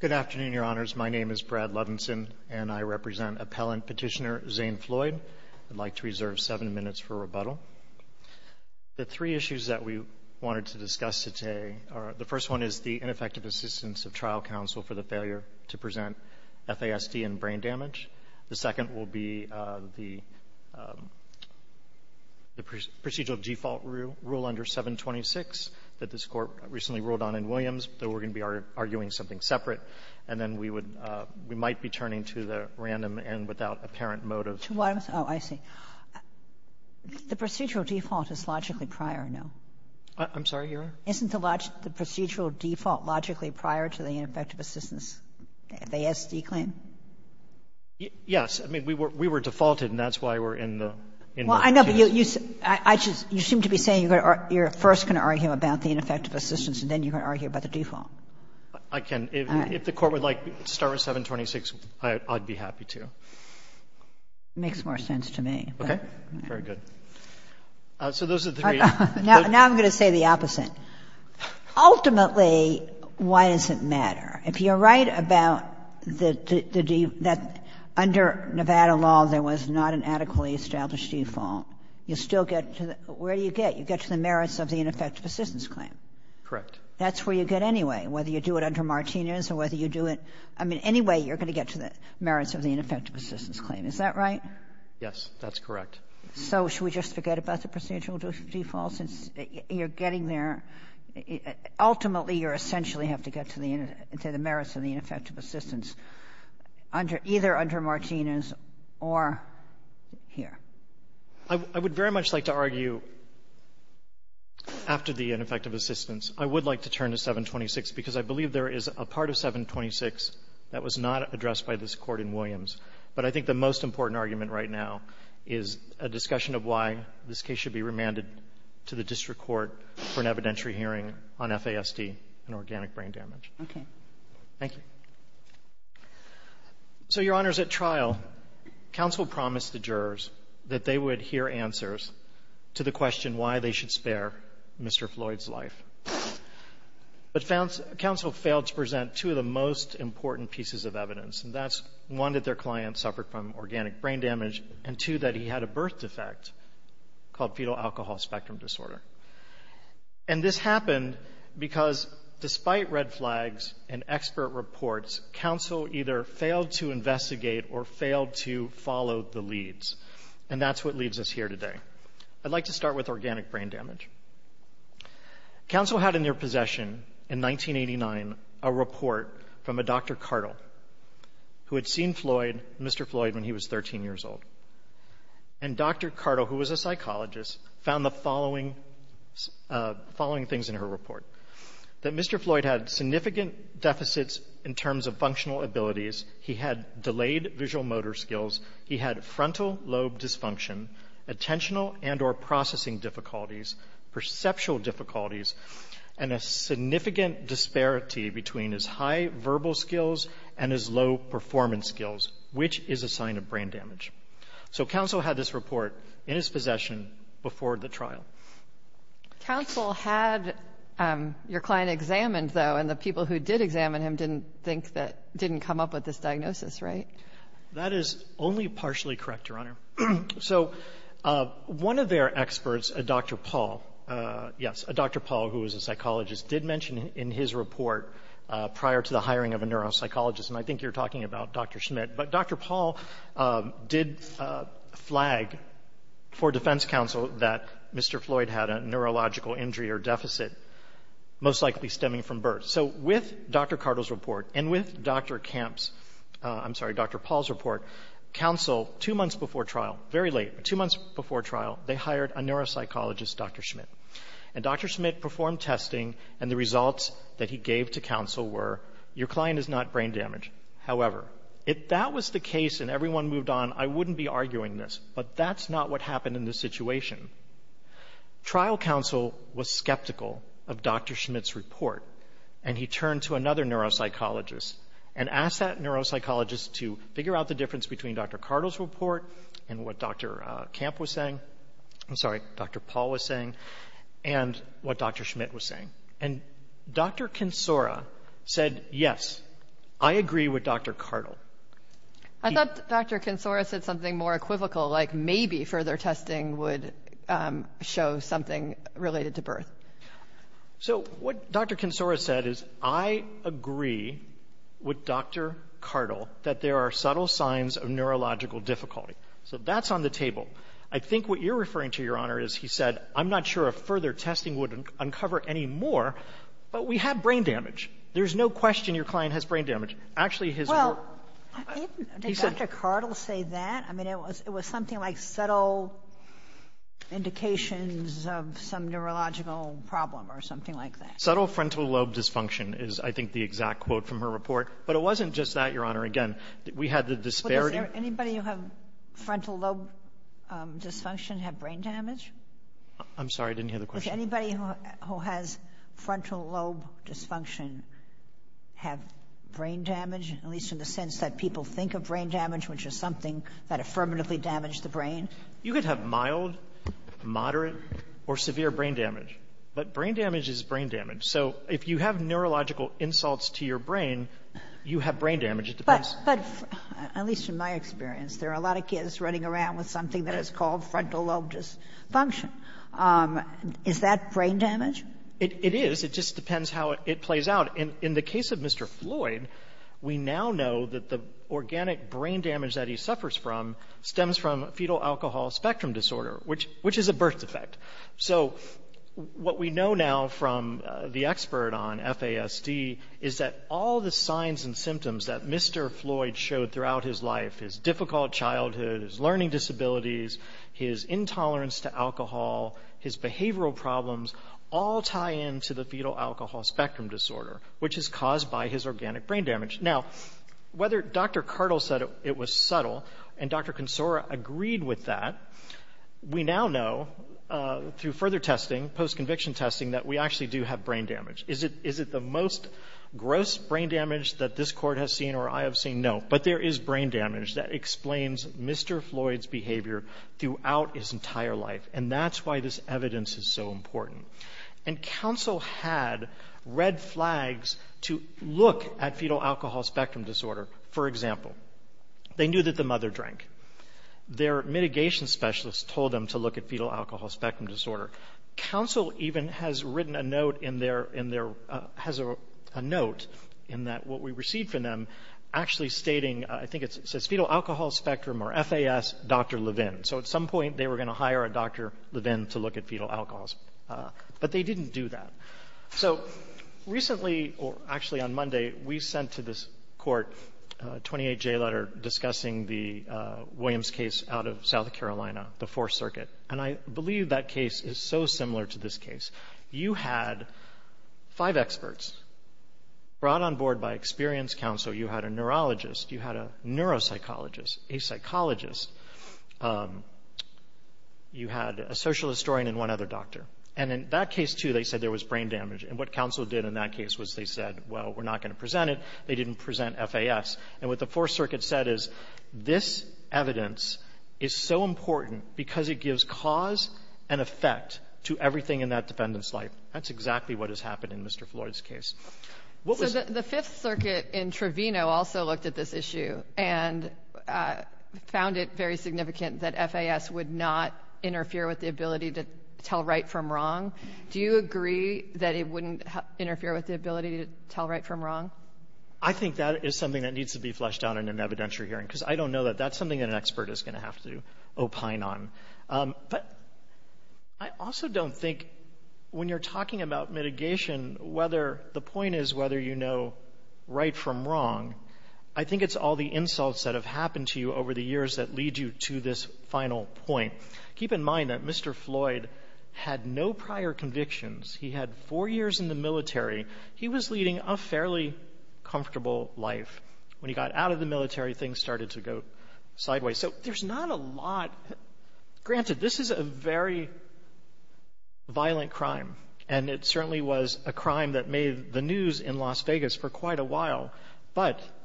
Good afternoon, Your Honors. My name is Brad Levinson, and I represent Appellant Petitioner Zane Floyd. I'd like to reserve seven minutes for rebuttal. The three issues that we wanted to discuss today are, the first one is the ineffective assistance of trial counsel for the failure to present FASD and brain damage. The second will be the procedural default rule under 726 that this Court recently ruled on in Williams that we're going to be arguing something separate, and then we would we might be turning to the random and without apparent motive. Oh, I see. The procedural default is logically prior, no? I'm sorry, Your Honor? Isn't the procedural default logically prior to the ineffective assistance FASD claim? Yes. I mean, we were defaulted, and that's why we're in the case. I know, but you seem to be saying you're first going to argue about the ineffective assistance, and then you're going to argue about the default. I can. If the Court would like to start with 726, I'd be happy to. Makes more sense to me. Okay. Very good. So those are the three. Now I'm going to say the opposite. Ultimately, why does it matter? If you're right about that under Nevada law there was not an adequately established default, you still get to the — where do you get? You get to the merits of the ineffective assistance claim. Correct. That's where you get anyway, whether you do it under Martinez or whether you do it — I mean, anyway, you're going to get to the merits of the ineffective assistance claim. Is that right? Yes, that's correct. So should we just forget about the procedural default since you're getting there? Ultimately, you essentially have to get to the merits of the ineffective assistance either under Martinez or here. I would very much like to argue after the ineffective assistance, I would like to turn to 726 because I believe there is a part of 726 that was not addressed by this Court in Williams. But I think the most important argument right now is a discussion of why this case should be remanded to the district court for an evidentiary hearing on FASD and organic brain damage. Okay. Thank you. So, Your Honors, at trial, counsel promised the jurors that they would hear answers to the question why they should spare Mr. Floyd's life. But counsel failed to present two of the most important pieces of evidence, and that's one, that their client suffered from organic brain damage, and two, that he had a birth defect called fetal alcohol spectrum disorder. And this happened because despite red flags and expert reports, counsel either failed to investigate or failed to follow the leads. And that's what leads us here today. I'd like to start with organic brain damage. Counsel had in their possession in 1989 a report from a Dr. Cartle who had seen Mr. Floyd when he was 13 years old. And Dr. Cartle, who was a psychologist, found the following things in her report. That Mr. Floyd had significant deficits in terms of functional abilities, he had delayed visual motor skills, he had frontal lobe dysfunction, attentional and or processing difficulties, perceptual difficulties, and a significant disparity between his high verbal skills and his low performance skills, which is a sign of brain damage. So counsel had this report in his possession before the trial. Counsel had your client examined, though, and the people who did examine him didn't think that, didn't come up with this diagnosis, right? That is only partially correct, Your Honor. So one of their experts, a Dr. Paul, yes, a Dr. Paul who was a psychologist, did mention in his report prior to the hiring of a neuropsychologist, and I think you're talking about Dr. Schmidt. But Dr. Paul did flag for defense counsel that Mr. Floyd had a neurological injury or deficit most likely stemming from birth. So with Dr. Cartle's report and with Dr. Camp's, I'm sorry, Dr. Paul's report, counsel two months before trial, very late, two months before trial, they hired a neuropsychologist, Dr. Schmidt. And Dr. Schmidt performed testing, and the results that he gave to counsel were, your client is not brain damaged. However, if that was the case and everyone moved on, I wouldn't be arguing this. But that's not what happened in this situation. Trial counsel was skeptical of Dr. Schmidt's report, and he turned to another neuropsychologist and asked that neuropsychologist to figure out the difference between Dr. Cartle's report and what Dr. Camp was saying, I'm sorry, Dr. Paul was saying, and what Dr. Schmidt was saying. And Dr. Kinsora said, yes, I agree with Dr. Cartle. I thought Dr. Kinsora said something more equivocal, like maybe further testing would show something related to birth. So what Dr. Kinsora said is, I agree with Dr. Cartle that there are subtle signs of brain damage. So that's on the table. I think what you're referring to, Your Honor, is he said, I'm not sure if further testing would uncover any more, but we have brain damage. There's no question your client has brain damage. Actually, his report — Well, didn't Dr. Cartle say that? I mean, it was something like subtle indications of some neurological problem or something like that. Subtle frontal lobe dysfunction is, I think, the exact quote from her report. But it wasn't just that, Your Honor. Again, we had the disparity — Does anybody who has frontal lobe dysfunction have brain damage? I'm sorry. I didn't hear the question. Does anybody who has frontal lobe dysfunction have brain damage, at least in the sense that people think of brain damage, which is something that affirmatively damaged the brain? You could have mild, moderate, or severe brain damage. But brain damage is brain damage. So if you have neurological insults to your brain, you have brain damage. It depends. But at least in my experience, there are a lot of kids running around with something that is called frontal lobe dysfunction. Is that brain damage? It is. It just depends how it plays out. In the case of Mr. Floyd, we now know that the organic brain damage that he suffers from stems from fetal alcohol spectrum disorder, which is a birth defect. So what we know now from the expert on FASD is that all the signs and symptoms that Mr. Floyd showed throughout his life — his difficult childhood, his learning disabilities, his intolerance to alcohol, his behavioral problems — all tie into the fetal alcohol spectrum disorder, which is caused by his organic brain damage. Now, whether Dr. Cardle said it was subtle and Dr. Consora agreed with that, we now know through further testing, post-conviction testing, that we actually do have brain damage. Is it the most gross brain damage that this court has seen or I have seen? No. But there is brain damage that explains Mr. Floyd's behavior throughout his entire life. And that's why this evidence is so important. And counsel had red flags to look at fetal alcohol spectrum disorder. For example, they knew that the mother drank. Their mitigation specialist told them to look at fetal alcohol spectrum disorder. Counsel even has written a note in their — has a note in that what we received from them actually stating — I think it says fetal alcohol spectrum or FAS, Dr. Levin. So at some point, they were going to hire a Dr. Levin to look at fetal alcohols. But they didn't do that. So recently, or actually on Monday, we sent to this court a 28-J letter discussing the Williams case out of South Carolina, the Fourth Circuit. And I believe that case is so similar to this case. You had five experts brought on board by experienced counsel. You had a neurologist. You had a neuropsychologist, a psychologist. You had a social historian and one other doctor. And in that case, too, they said there was brain damage. And what counsel did in that case was they said, well, we're not going to present it. They didn't present FAS. And what the Fourth Circuit said is, this evidence is so important because it gives cause and effect to everything in that defendant's life. That's exactly what has happened in Mr. Floyd's case. So the Fifth Circuit in Trevino also looked at this issue and found it very significant that FAS would not interfere with the ability to tell right from wrong. Do you agree that it wouldn't interfere with the ability to tell right from wrong? I think that is something that needs to be fleshed out in an evidentiary hearing because I don't know that that's something that an expert is going to have to opine on. But I also don't think when you're talking about mitigation, whether the point is whether you know right from wrong, I think it's all the insults that have happened to you over the years that lead you to this final point. Keep in mind that Mr. Floyd had no prior convictions. He had four years in the military. He was leading a fairly comfortable life. When he got out of the military, things started to go sideways. So there's not a lot. Granted, this is a very violent crime. And it certainly was a crime that made the news in Las Vegas for quite a while.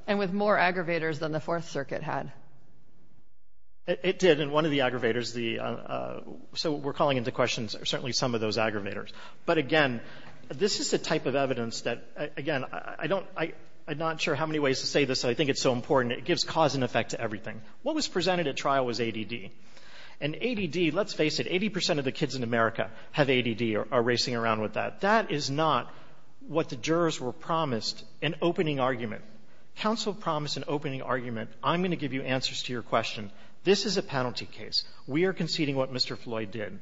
And with more aggravators than the Fourth Circuit had. It did. And one of the aggravators, so we're calling into question certainly some of those aggravators. But again, this is the type of evidence that, again, I'm not sure how many ways to say this. I think it's so important. It gives cause and effect to everything. What was presented at trial was ADD. And ADD, let's face it, 80% of the kids in America have ADD or are racing around with that. That is not what the jurors were promised an opening argument. Counsel promised an opening argument. I'm going to give you answers to your question. This is a penalty case. We are conceding what Mr. Floyd did.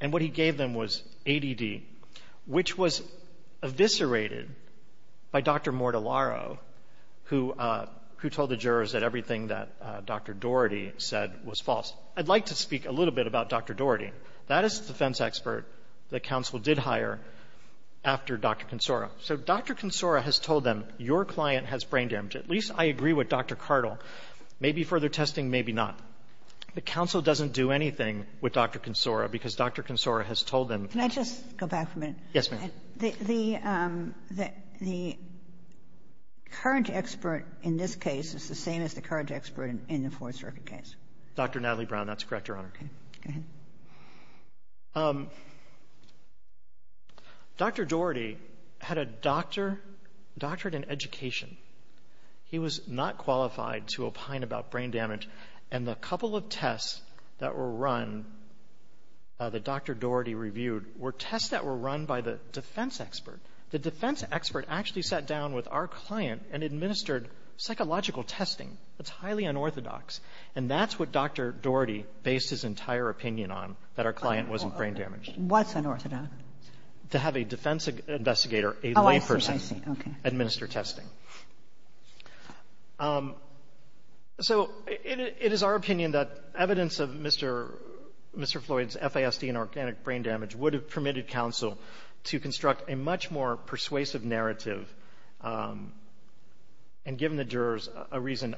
And what he gave them was ADD, which was eviscerated by Dr. Mortallaro, who told the jurors that everything that Dr. Doherty said was false. I'd like to speak a little bit about Dr. Doherty. That is the defense expert that counsel did hire after Dr. Consora. So Dr. Consora has told them, your client has brain damage. At least I agree with Dr. Cardle. Maybe further testing, maybe not. But counsel doesn't do anything with Dr. Consora because Dr. Consora has told them. Can I just go back for a minute? Yes, ma'am. The current expert in this case is the same as the current expert in the Fourth Circuit case. Dr. Natalie Brown, that's correct, Your Honor. Okay, go ahead. Dr. Doherty had a doctorate in education. He was not qualified to opine about brain damage. And the couple of tests that were run that Dr. Doherty reviewed were tests that were run by the defense expert. The defense expert actually sat down with our client and administered psychological testing. That's highly unorthodox. And that's what Dr. Doherty based his entire opinion on, that our client wasn't brain damaged. What's unorthodox? To have a defense investigator, a layperson, administer testing. So it is our opinion that evidence of Mr. Floyd's FASD and organic brain damage would have permitted counsel to construct a much more persuasive narrative, and given the jurors a reason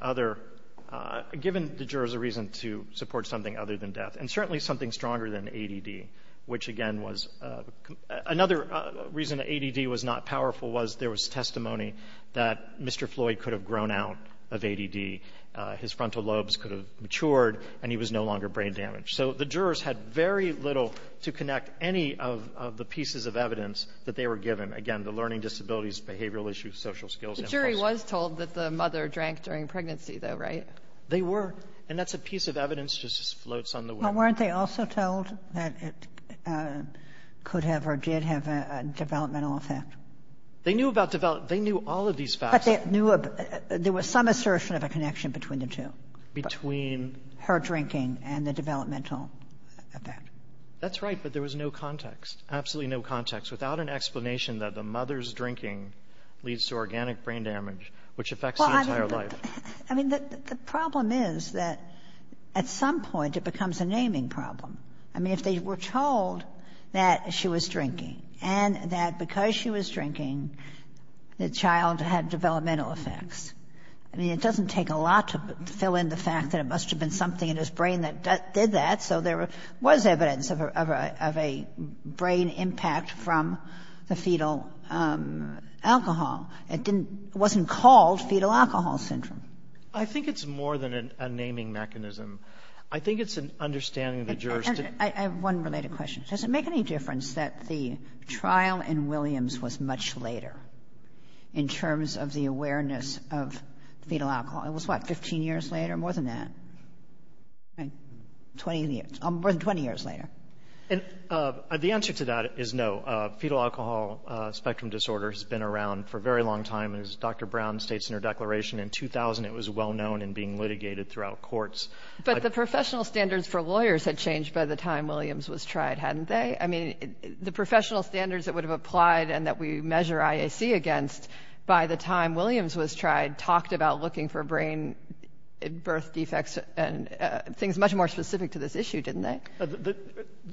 to support something other than death, and certainly something stronger than ADD, which, again, was another reason ADD was not powerful, was there was testimony that Mr. Floyd could have grown out of ADD. His frontal lobes could have matured, and he was no longer brain damaged. So the jurors had very little to connect any of the pieces of evidence that they were given. Again, the learning disabilities, behavioral issues, social skills. The jury was told that the mother drank during pregnancy, though, right? They were. And that's a piece of evidence that just floats on the water. But weren't they also told that it could have or did have a developmental effect? They knew all of these facts. But there was some assertion of a connection between the two. Between? Her drinking and the developmental effect. That's right, but there was no context, absolutely no context, without an explanation that the mother's drinking leads to organic brain damage, which affects the entire life. I mean, the problem is that at some point it becomes a naming problem. I mean, if they were told that she was drinking and that because she was drinking the child had developmental effects. I mean, it doesn't take a lot to fill in the fact that it must have been something in his brain that did that. So there was evidence of a brain impact from the fetal alcohol. It wasn't called fetal alcohol syndrome. I think it's more than a naming mechanism. I think it's an understanding of the jurist. I have one related question. Does it make any difference that the trial in Williams was much later in terms of the awareness of fetal alcohol? It was, what, 15 years later, more than that? More than 20 years later. The answer to that is no. Fetal alcohol spectrum disorder has been around for a very long time. As Dr. Brown states in her declaration, in 2000 it was well known and being litigated throughout courts. But the professional standards for lawyers had changed by the time Williams was tried, hadn't they? I mean, the professional standards that would have applied and that we measure IAC against by the time Williams was tried talked about looking for brain birth defects and things much more specific to this issue, didn't they?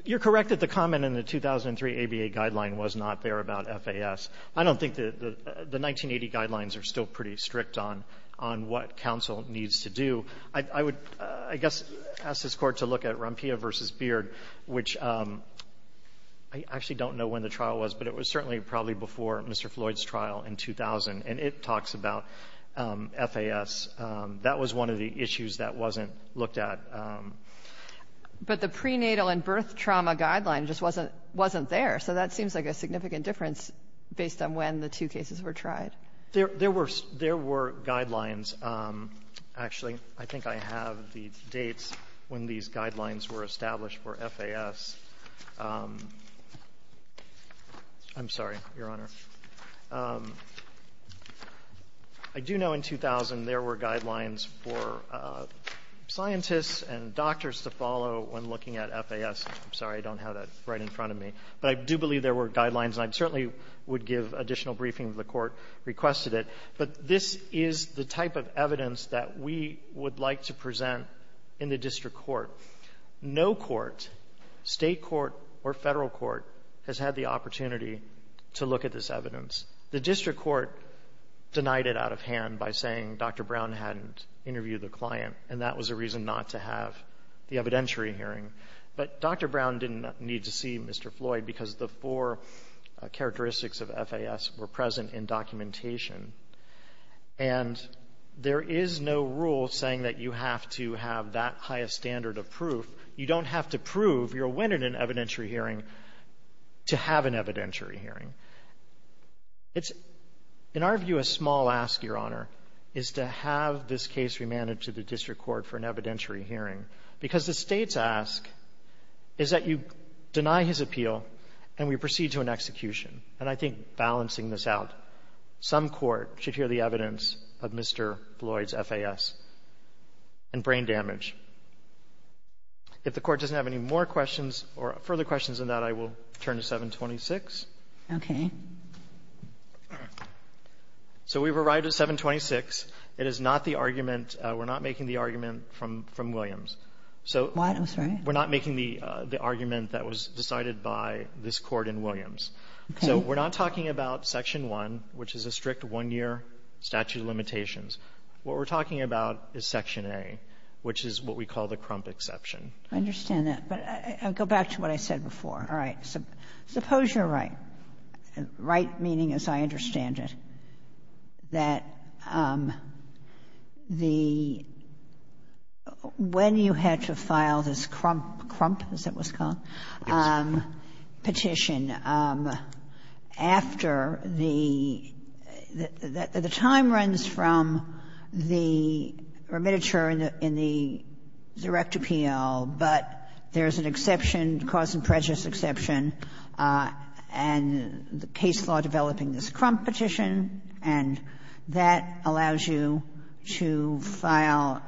You're correct that the comment in the 2003 ABA guideline was not there about FAS. I don't think the 1980 guidelines are still pretty strict on what counsel needs to do. I would, I guess, ask this Court to look at Rampea v. Beard, which I actually don't know when the trial was, but it was certainly probably before Mr. Floyd's trial in 2000, and it talks about FAS. That was one of the issues that wasn't looked at. But the prenatal and birth trauma guideline just wasn't there, so that seems like a significant difference based on when the two cases were tried. There were guidelines. Actually, I think I have the dates when these guidelines were established for FAS. I'm sorry, Your Honor. I do know in 2000 there were guidelines for scientists and doctors to follow when looking at FAS. I'm sorry, I don't have that right in front of me. But I do believe there were guidelines, and I certainly would give additional briefing if the Court requested it. But this is the type of evidence that we would like to present in the district court. No court, state court or federal court, has had the opportunity to look at this evidence. The district court denied it out of hand by saying Dr. Brown hadn't interviewed the client, and that was a reason not to have the evidentiary hearing. But Dr. Brown didn't need to see Mr. Floyd because the four characteristics of FAS were present in documentation. And there is no rule saying that you have to have that highest standard of proof. You don't have to prove you're winning an evidentiary hearing to have an evidentiary hearing. In our view, a small ask, Your Honor, is to have this case remanded to the district court for an evidentiary hearing. Because the state's ask is that you deny his appeal and we proceed to an execution. And I think balancing this out, some court should hear the evidence of Mr. Floyd's FAS and brain damage. If the Court doesn't have any more questions or further questions on that, I will turn to 726. Okay. So we've arrived at 726. It is not the argument, we're not making the argument from Williams. What? I'm sorry? We're not making the argument that was decided by this Court in Williams. So we're not talking about Section 1, which is a strict one-year statute of limitations. What we're talking about is Section A, which is what we call the Crump exception. I understand that, but I'll go back to what I said before. All right. Suppose you're right. Right meaning, as I understand it, that the — when you had to file this Crump — Crump, as it was called? Yes. Petition. After the — the time runs from the remittiture in the direct appeal, but there's an exception, cause and prejudice exception, and the case law developing this Crump petition, and that allows you to file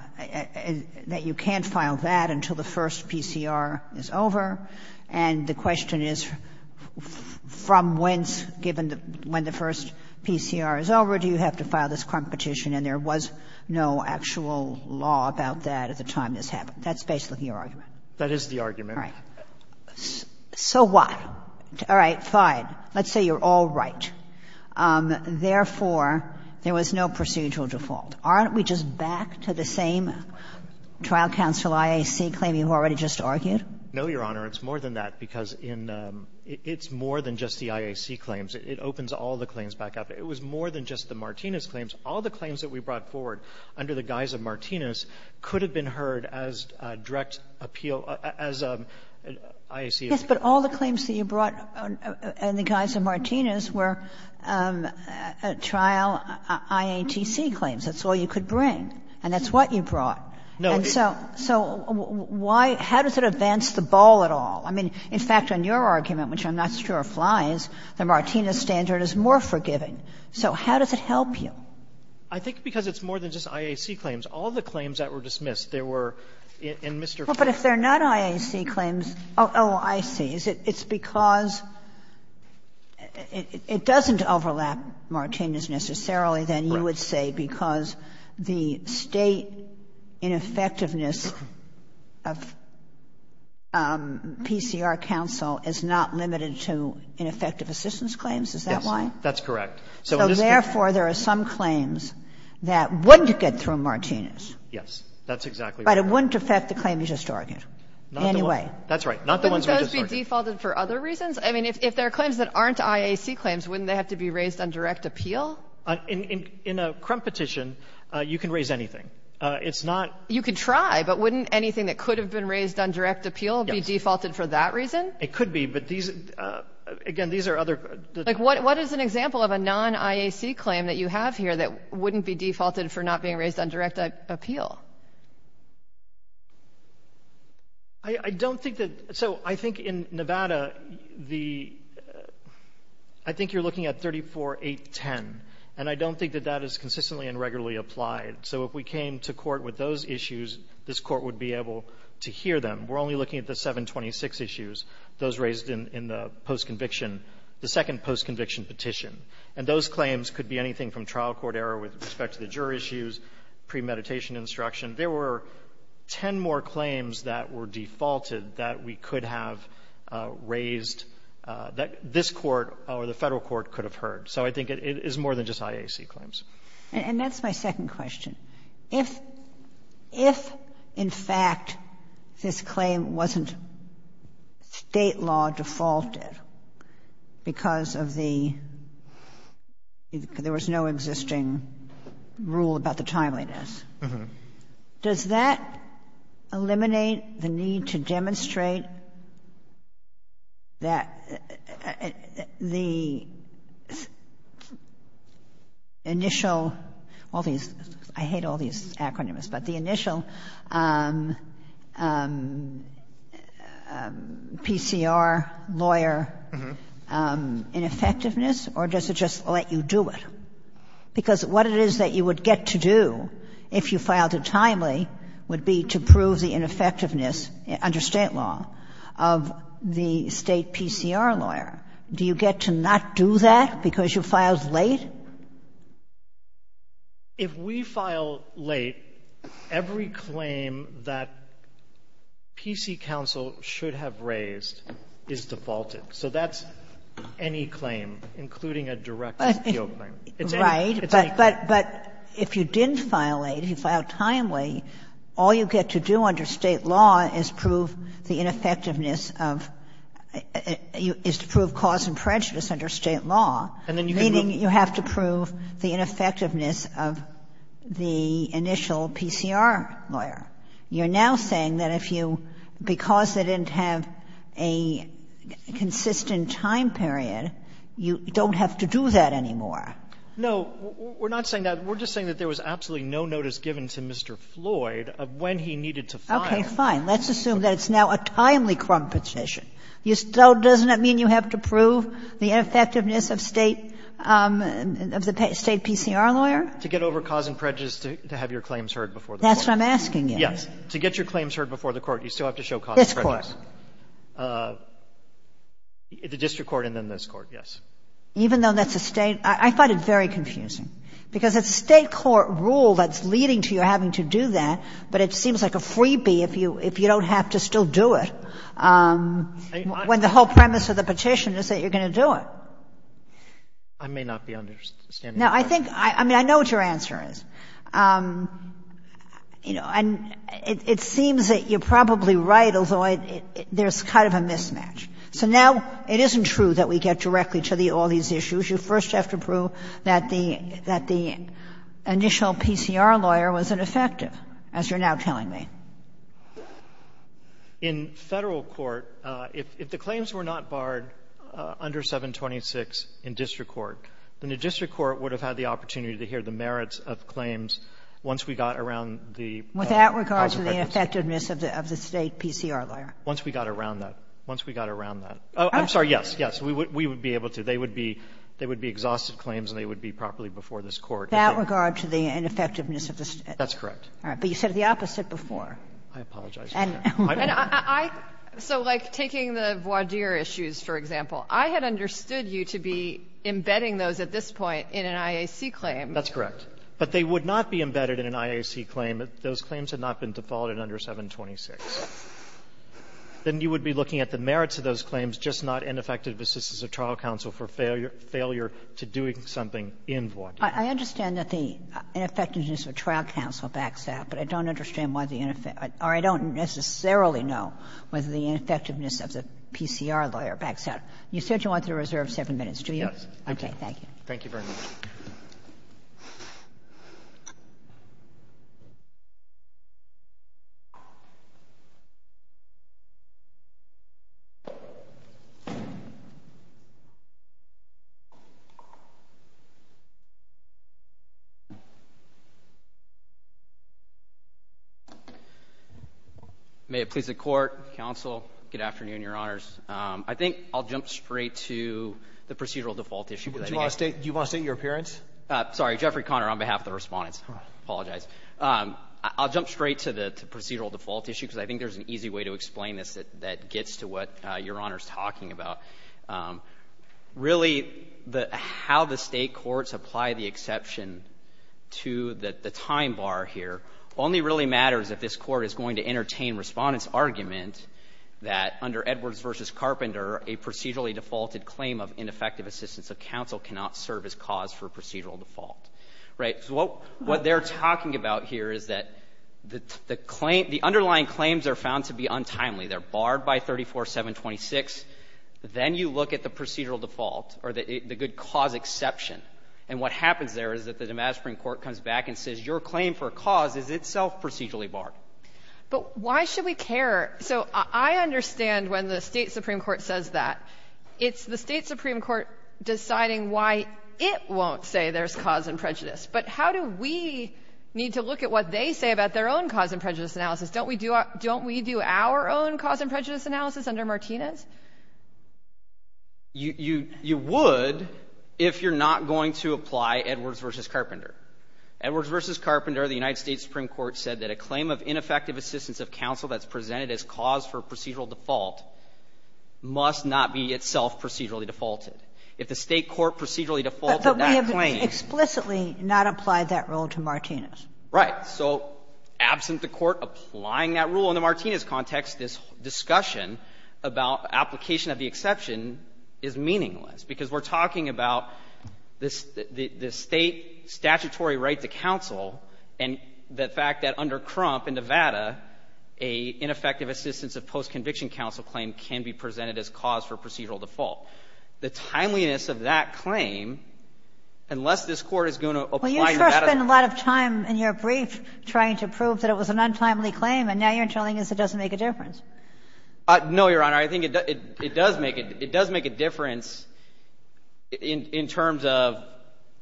— that you can't file that until the first PCR is over. And the question is, from whence, given when the first PCR is over, do you have to file this Crump petition? And there was no actual law about that at the time this happened. That's basically your argument. That is the argument. All right. So what? All right. Fine. Let's say you're all right. Therefore, there was no procedural default. Aren't we just back to the same trial counsel IAC claim you've already just argued? No, Your Honor. It's more than that, because in — it's more than just the IAC claims. It opens all the claims back up. It was more than just the Martinez claims. All the claims that we brought forward under the guise of Martinez could have been heard as direct appeal, as IAC. Yes, but all the claims that you brought under the guise of Martinez were trial IATC claims. That's all you could bring, and that's what you brought. No. And so why — how does it advance the ball at all? I mean, in fact, on your argument, which I'm not sure applies, the Martinez standard is more forgiving. So how does it help you? I think because it's more than just IAC claims. All the claims that were dismissed, they were in Mr. Feigl. But if they're not IAC claims — oh, I see. It's because it doesn't overlap Martinez necessarily, then, you would say, because the State ineffectiveness of PCR counsel is not limited to ineffective assistance claims? Is that why? That's correct. So therefore, there are some claims that wouldn't get through Martinez. Yes, that's exactly right. But it wouldn't affect the claim you just argued. Not the one. Anyway. That's right. Not the ones we just argued. Wouldn't those be defaulted for other reasons? I mean, if they're claims that aren't IAC claims, wouldn't they have to be raised on direct appeal? In a Crump petition, you can raise anything. It's not — You could try, but wouldn't anything that could have been raised on direct appeal be defaulted for that reason? It could be, but these — again, these are other — Like, what is an example of a non-IAC claim that you have here that wouldn't be defaulted for not being raised on direct appeal? I don't think that — so I think in Nevada, the — I think you're looking at 34, 8, 10. And I don't think that that is consistently and regularly applied. So if we came to court with those issues, this Court would be able to hear them. We're only looking at the 726 issues, those raised in the post-conviction. The second post-conviction petition. And those claims could be anything from trial court error with respect to the jury issues, premeditation instruction. There were ten more claims that were defaulted that we could have raised that this Court or the Federal court could have heard. So I think it is more than just IAC claims. And that's my second question. If, in fact, this claim wasn't State law defaulted because of the — there was no existing rule about the timeliness, does that eliminate the need to demonstrate that the initial — all these — I hate all these acronyms, but the initial PCR lawyer ineffectiveness, or does it just let you do it? Because what it is that you would get to do if you filed it timely would be to prove the ineffectiveness under State law of the State PCR lawyer. Do you get to not do that because you filed late? If we file late, every claim that PC counsel should have raised is defaulted. So that's any claim, including a direct appeal claim. It's any claim. Right. But if you didn't file late, if you filed timely, all you get to do under State law is prove the ineffectiveness of — is to prove cause and prejudice under State law, meaning you have to prove the ineffectiveness of the initial PCR lawyer. You're now saying that if you — because they didn't have a consistent time period, you don't have to do that anymore. No. We're not saying that. We're just saying that there was absolutely no notice given to Mr. Floyd of when he needed to file. Okay. Fine. Let's assume that it's now a timely crumped petition. You still — doesn't that mean you have to prove the ineffectiveness of State — of the State PCR lawyer? To get over cause and prejudice, to have your claims heard before the court. That's what I'm asking you. Yes. To get your claims heard before the court, you still have to show cause and prejudice. This court. The district court and then this court, yes. Even though that's a State — I find it very confusing, because it's a State court rule that's leading to your having to do that, but it seems like a freebie if you don't have to still do it, when the whole premise of the petition is that you're going to do it. I may not be understanding that. Now, I think — I mean, I know what your answer is. You know, and it seems that you're probably right, although there's kind of a mismatch. So now it isn't true that we get directly to the — all these issues. You first have to prove that the initial PCR lawyer was ineffective, as you're now telling me. In Federal court, if the claims were not barred under 726 in district court, then the district court would have had the opportunity to hear the merits of claims once we got around the cause and prejudice. Without regard to the effectiveness of the State PCR lawyer. Once we got around that. Once we got around that. Oh, I'm sorry. Yes, yes. We would be able to. They would be exhausted claims and they would be properly before this Court. Without regard to the ineffectiveness of the State. That's correct. All right. But you said the opposite before. I apologize, Your Honor. And I — so like taking the voir dire issues, for example, I had understood you to be embedding those at this point in an IAC claim. That's correct. But they would not be embedded in an IAC claim. Those claims had not been defaulted under 726. Then you would be looking at the merits of those claims, just not ineffective as this is a trial counsel for failure to doing something in voir dire. I understand that the ineffectiveness of a trial counsel backs that, but I don't understand why the — or I don't necessarily know whether the ineffectiveness of the PCR lawyer backs that. You said you wanted to reserve 7 minutes, do you? Yes. Thank you. Thank you very much. Thank you. May it please the Court, Counsel, good afternoon, Your Honors. I think I'll jump straight to the procedural default issue. Do you want to state your appearance? Sorry, Jeffrey Conner on behalf of the Respondents. I apologize. I'll jump straight to the procedural default issue because I think there's an easy way to explain this that gets to what Your Honor's talking about. Really, how the State courts apply the exception to the time bar here only really matters if this Court is going to entertain Respondents' argument that under Edwards v. Carpenter, a procedurally defaulted claim of ineffective assistance of counsel cannot serve as cause for procedural default. Right? So what they're talking about here is that the claim — the underlying claims are found to be untimely. They're barred by 34-726. Then you look at the procedural default or the good cause exception, and what happens there is that the Damascus Supreme Court comes back and says your claim for a cause is itself procedurally barred. But why should we care? So I understand when the State supreme court says that. It's the State supreme court deciding why it won't say there's cause and prejudice. But how do we need to look at what they say about their own cause and prejudice analysis? Don't we do our own cause and prejudice analysis under Martinez? You would if you're not going to apply Edwards v. Carpenter. Edwards v. Carpenter, the United States supreme court, said that a claim of ineffective assistance of counsel that's presented as cause for procedural default must not be itself procedurally defaulted. If the State court procedurally defaulted that claim — But we have explicitly not applied that rule to Martinez. Right. So absent the Court applying that rule in the Martinez context, this discussion about application of the exception is meaningless, because we're talking about the State statutory right to counsel and the fact that under Crump in Nevada, a ineffective assistance of post-conviction counsel claim can be presented as cause for procedural default. The timeliness of that claim, unless this Court is going to apply Nevada — Well, you sure spent a lot of time in your brief trying to prove that it was an untimely claim, and now you're telling us it doesn't make a difference. No, Your Honor. I think it does make a difference in terms of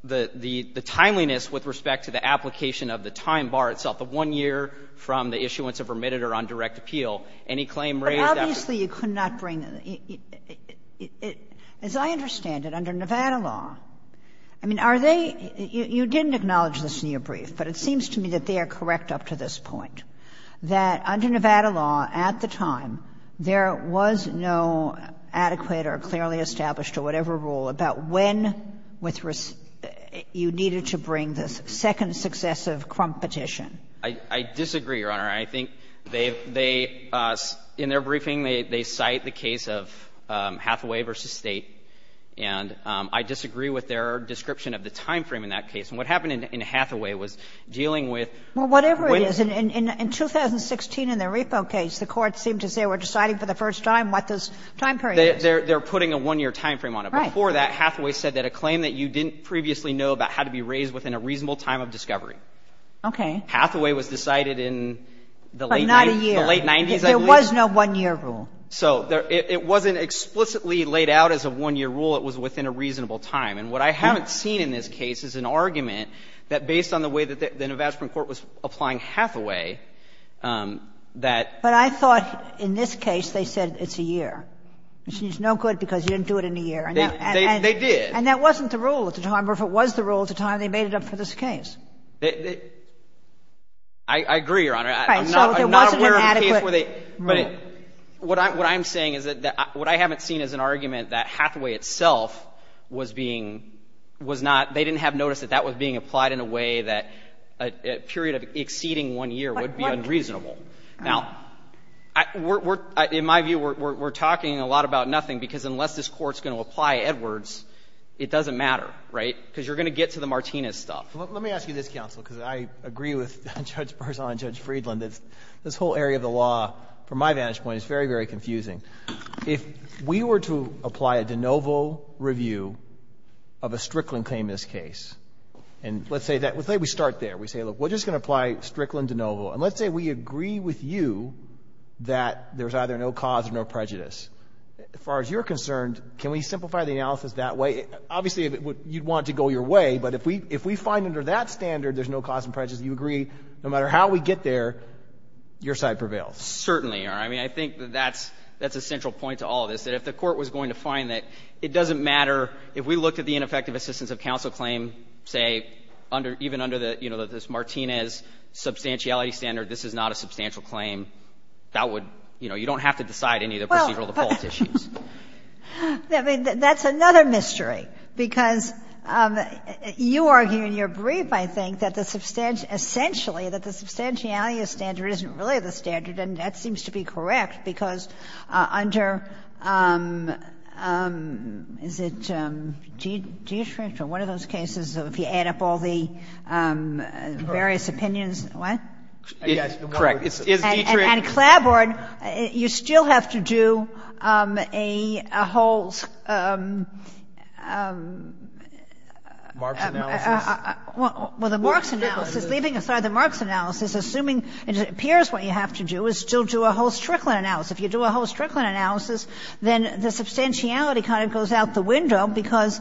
the timeliness with respect to the application of the time bar itself, the one year from the issuance of remitted or on direct appeal. Any claim raised after — But obviously you could not bring — as I understand it, under Nevada law, I mean, are they — you didn't acknowledge this in your brief, but it seems to me that they adequate or clearly established or whatever rule about when you needed to bring the second successive Crump petition. I disagree, Your Honor. I think they — in their briefing, they cite the case of Hathaway v. State, and I disagree with their description of the time frame in that case. And what happened in Hathaway was dealing with — Well, whatever it is, in 2016 in the Repo case, the Court seemed to say we're deciding for the first time what this time period is. They're putting a one-year time frame on it. Before that, Hathaway said that a claim that you didn't previously know about had to be raised within a reasonable time of discovery. Okay. Hathaway was decided in the late — But not a year. The late 90s, I believe. There was no one-year rule. So it wasn't explicitly laid out as a one-year rule. It was within a reasonable time. And what I haven't seen in this case is an argument that based on the way that the Nevada Supreme Court was applying Hathaway, that — But I thought in this case they said it's a year, which is no good because you didn't do it in a year. They did. And that wasn't the rule at the time. Or if it was the rule at the time, they made it up for this case. I agree, Your Honor. All right. So there wasn't an adequate rule. But what I'm saying is that what I haven't seen is an argument that Hathaway itself was being — was not — they didn't have notice that that was being applied in a way that a period of exceeding one year would be unreasonable. Now, we're — in my view, we're talking a lot about nothing, because unless this Court's going to apply Edwards, it doesn't matter, right? Because you're going to get to the Martinez stuff. Let me ask you this, counsel, because I agree with Judge Barzano and Judge Friedland that this whole area of the law, from my vantage point, is very, very confusing. If we were to apply a de novo review of a Strickland claim in this case, and let's say that — let's say we start there. We say, look, we're just going to apply Strickland de novo. And let's say we agree with you that there's either no cause or no prejudice. As far as you're concerned, can we simplify the analysis that way? Obviously, you'd want it to go your way. But if we — if we find under that standard there's no cause and prejudice, you agree no matter how we get there, your side prevails? Certainly, Your Honor. I mean, I think that that's — that's a central point to all of this, that if the Court was going to find that it doesn't matter if we looked at the ineffective assistance of counsel claim, say, under — even under the, you know, this Martinez substantiality standard, this is not a substantial claim, that would — you know, you don't have to decide any of the procedural default issues. Well, but — I mean, that's another mystery, because you argue in your brief, I think, that the — essentially, that the substantiality of the standard isn't really the standard, and that seems to be correct, because under — is it — do you know, one of those cases of if you add up all the various opinions — what? Correct. Is — is Dietrich — And — and Clairbourne, you still have to do a whole — Mark's analysis? Well, the Mark's analysis — leaving aside the Mark's analysis, assuming it appears what you have to do is still do a whole Strickland analysis. If you do a whole Strickland analysis, then the substantiality kind of goes out the window. Then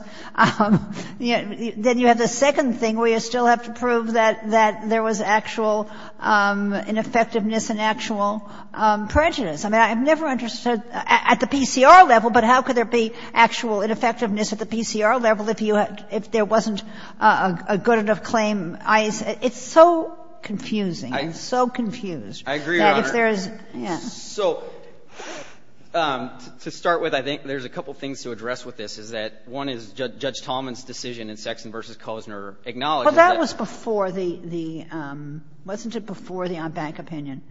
you have the second thing where you still have to prove that — that there was actual ineffectiveness and actual prejudice. I mean, I've never understood — at the PCR level, but how could there be actual ineffectiveness at the PCR level if you — if there wasn't a good enough claim? It's so confusing. I'm so confused. I agree, Your Honor. That if there is — yeah. So to start with, I think there's a couple things to address with this, is that one is Judge Tolman's decision in Sexton v. Kozner acknowledges that — Well, that was before the — wasn't it before the en banc opinion?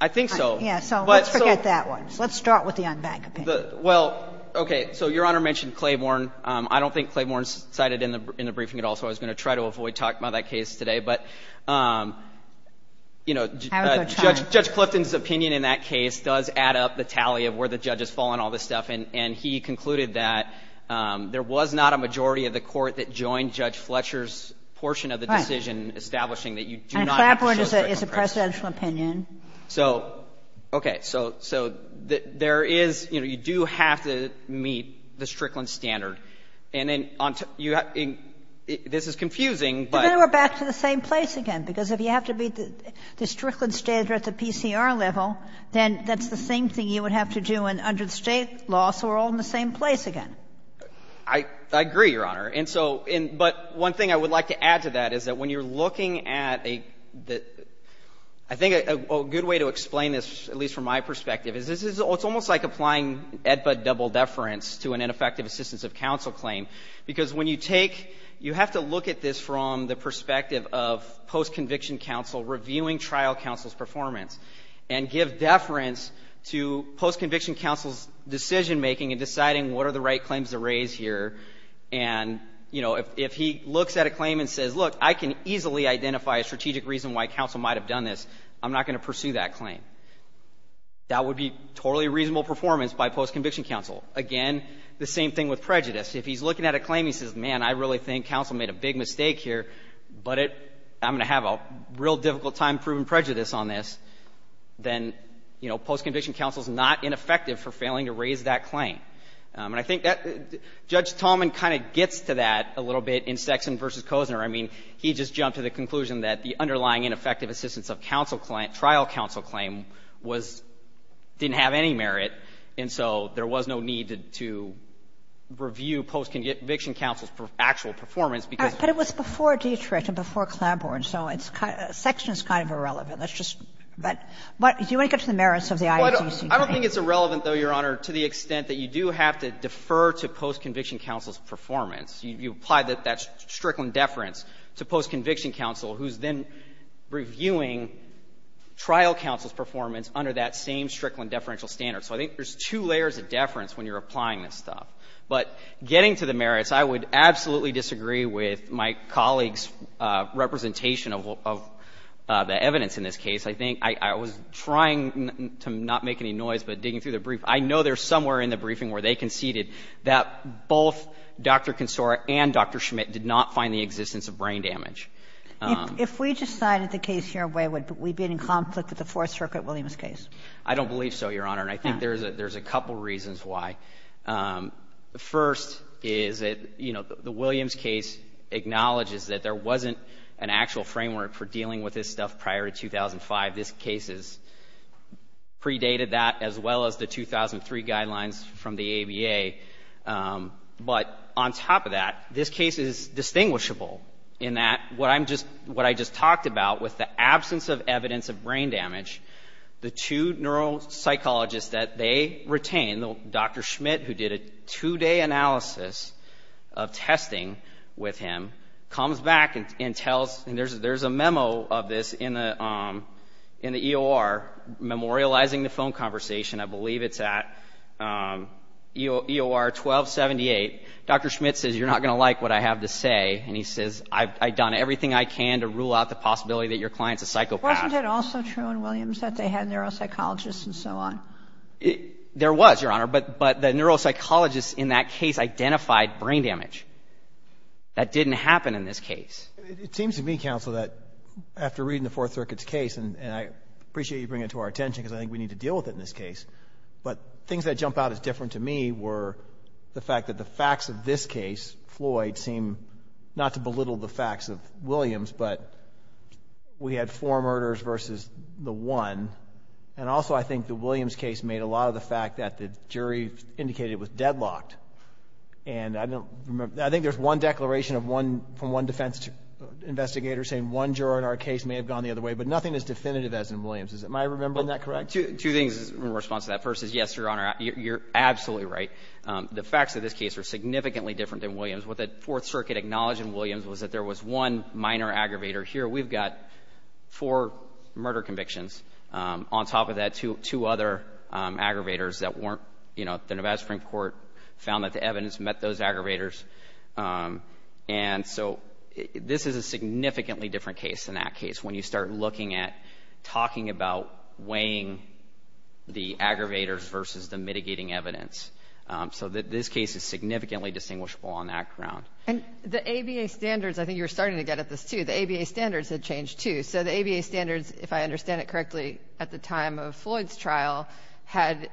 I think so. Yeah. So let's forget that one. Let's start with the en banc opinion. Well, okay. So Your Honor mentioned Claiborne. I don't think Claiborne is cited in the briefing at all, so I was going to try to avoid talking about that case today. But, you know, Judge Clifton's opinion in that case does add up the tally of where the judges fall in all this stuff, and he concluded that there was not a majority of the court that joined Judge Fletcher's portion of the decision establishing that you do not have to show strict congression. And Claiborne is a presidential opinion. So, okay. So there is — you know, you do have to meet the Strickland standard. And then on — this is confusing, but — But then we're back to the same place again, because if you have to meet the Strickland standard at the PCR level, then that's the same thing you would have to do under the State law, so we're all in the same place again. I agree, Your Honor. And so — but one thing I would like to add to that is that when you're looking at a — I think a good way to explain this, at least from my perspective, is this is — it's almost like applying AEDPA double deference to an ineffective assistance of counsel claim, because when you take — you have to look at this from the perspective of post-conviction counsel reviewing trial counsel's performance and give deference to post-conviction counsel's decision-making in deciding what are the right claims to raise here. And, you know, if he looks at a claim and says, look, I can easily identify a strategic reason why counsel might have done this, I'm not going to pursue that claim. That would be totally reasonable performance by post-conviction counsel. Again, the same thing with prejudice. If he's looking at a claim, he says, man, I really think counsel made a big mistake here, but I'm going to have a real difficult time proving prejudice on this, then, you know, post-conviction counsel's not ineffective for failing to raise that claim. And I think that — Judge Tallman kind of gets to that a little bit in Sexton v. Kosner. I mean, he just jumped to the conclusion that the underlying ineffective assistance of trial counsel claim was — didn't have any merit, and so there was no need to review post-conviction counsel's actual performance because — But it was before Dietrich and before Claiborne, so Sexton's kind of irrelevant. Let's just — but do you want to get to the merits of the IACC claim? Well, I don't think it's irrelevant, though, Your Honor, to the extent that you do have to defer to post-conviction counsel's performance. You apply that strickland deference to post-conviction counsel, who's then reviewing trial counsel's performance under that same strickland deferential standard. So I think there's two layers of deference when you're applying this stuff. But getting to the merits, I would absolutely disagree with my colleague's representation of the evidence in this case. I think — I was trying to not make any noise, but digging through the brief. I know there's somewhere in the briefing where they conceded that both Dr. Consora and Dr. Schmidt did not find the existence of brain damage. If we just cited the case here, would we be in conflict with the Fourth Circuit Williams case? I don't believe so, Your Honor, and I think there's a couple reasons why. First is that, you know, the Williams case acknowledges that there wasn't an actual framework for dealing with this stuff prior to 2005. This case has predated that as well as the 2003 guidelines from the ABA. But on top of that, this case is distinguishable in that what I just talked about with the absence of evidence of brain damage, the two neuropsychologists that they Dr. Schmidt, who did a two-day analysis of testing with him, comes back and tells — and there's a memo of this in the EOR memorializing the phone conversation. I believe it's at EOR 1278. Dr. Schmidt says, You're not going to like what I have to say. And he says, I've done everything I can to rule out the possibility that your client's a psychopath. Wasn't it also true in Williams that they had neuropsychologists and so on? There was, Your Honor, but the neuropsychologists in that case identified brain damage. That didn't happen in this case. It seems to me, Counsel, that after reading the Fourth Circuit's case, and I appreciate you bringing it to our attention because I think we need to deal with it in this case, but things that jump out as different to me were the fact that the facts of this case, Floyd, seem not to belittle the facts of Williams, but we had four murders versus the one. And also I think the Williams case made a lot of the fact that the jury indicated it was deadlocked. And I think there's one declaration from one defense investigator saying one juror in our case may have gone the other way, but nothing as definitive as in Williams. Am I remembering that correct? Two things in response to that. First is, yes, Your Honor, you're absolutely right. The facts of this case are significantly different than Williams. What the Fourth Circuit acknowledged in Williams was that there was one minor aggravator. Here we've got four murder convictions. On top of that, two other aggravators that weren't. The Nevada Supreme Court found that the evidence met those aggravators. And so this is a significantly different case than that case when you start looking at talking about weighing the aggravators versus the mitigating evidence. So this case is significantly distinguishable on that ground. And the ABA standards, I think you were starting to get at this, too. The ABA standards had changed, too. So the ABA standards, if I understand it correctly, at the time of Floyd's trial, had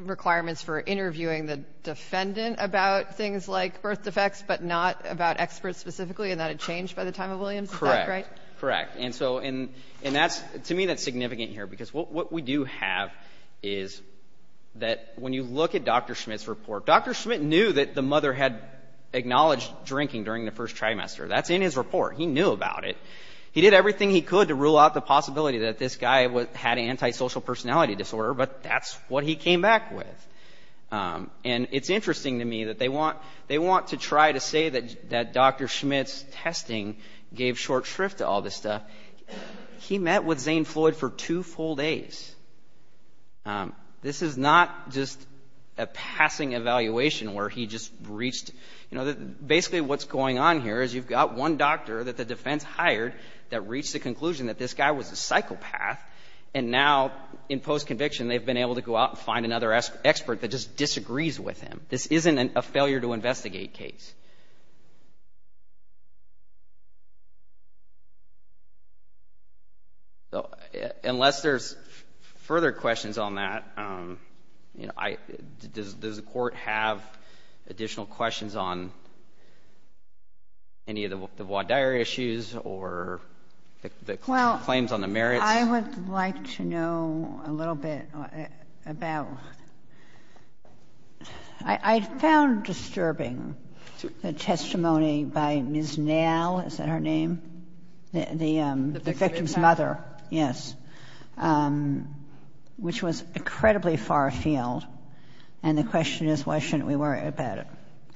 requirements for interviewing the defendant about things like birth defects but not about experts specifically, and that had changed by the time of Williams. Is that right? Correct. And so to me that's significant here because what we do have is that when you look at Dr. Schmitt's report, Dr. Schmitt knew that the mother had acknowledged drinking during the first trimester. That's in his report. He knew about it. He did everything he could to rule out the possibility that this guy had antisocial personality disorder, but that's what he came back with. And it's interesting to me that they want to try to say that Dr. Schmitt's testing gave short shrift to all this stuff. He met with Zane Floyd for two full days. This is not just a passing evaluation where he just reached, you know, basically what's going on here is you've got one doctor that the defense hired that reached the conclusion that this guy was a psychopath, and now in post-conviction they've been able to go out and find another expert that just disagrees with him. This isn't a failure to investigate case. So unless there's further questions on that, you know, does the court have additional questions on any of the voir dire issues or the claims on the merits? Well, I would like to know a little bit about ‑‑ I found disturbing. The testimony by Ms. Nall, is that her name? The victim's mother. The victim's mother, yes, which was incredibly far-field. And the question is why shouldn't we worry about it?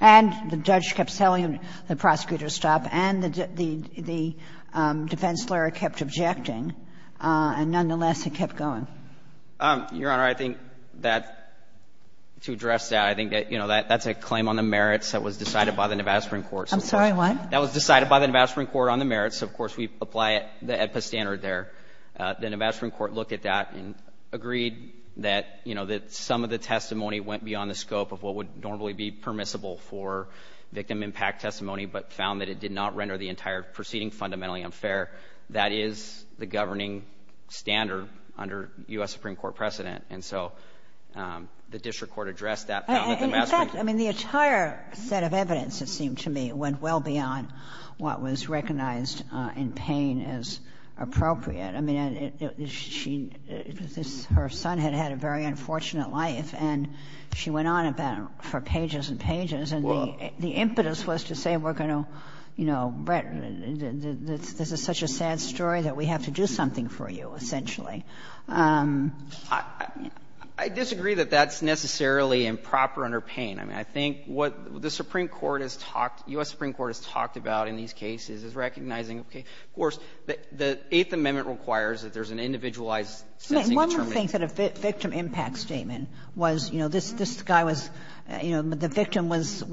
And the judge kept telling him the prosecutor's stop, and the defense lawyer kept objecting. And nonetheless, it kept going. Your Honor, I think that to address that, I think that, you know, that's a claim on the merits that was decided by the Nevada Supreme Court. I'm sorry, what? That was decided by the Nevada Supreme Court on the merits. Of course, we apply it, the AEDPA standard there. The Nevada Supreme Court looked at that and agreed that, you know, that some of the testimony went beyond the scope of what would normally be permissible for victim impact testimony but found that it did not render the entire proceeding fundamentally unfair. That is the governing standard under U.S. Supreme Court precedent. And so the district court addressed that. In fact, I mean, the entire set of evidence, it seemed to me, went well beyond what was recognized in Payne as appropriate. I mean, her son had had a very unfortunate life, and she went on about it for pages and pages. And the impetus was to say we're going to, you know, Brett, this is such a sad story that we have to do something for you, essentially. I disagree that that's necessarily improper under Payne. I mean, I think what the Supreme Court has talked, U.S. Supreme Court has talked about in these cases is recognizing, okay, of course, the Eighth Amendment requires that there's an individualized sentencing determination. One would think that a victim impact statement was, you know, this guy was, you know, the victim was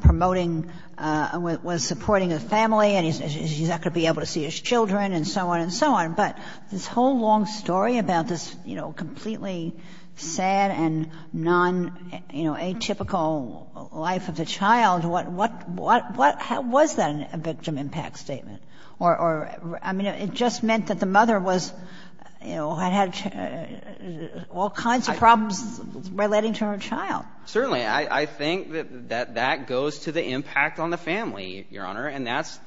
promoting, was supporting his family and he's not going to be able to see his children and so on and so on. But this whole long story about this, you know, completely sad and non, you know, atypical life of the child, what, what, how was that a victim impact statement? Or, I mean, it just meant that the mother was, you know, had had all kinds of problems relating to her child. Certainly. I think that that goes to the impact on the family, Your Honor. And that's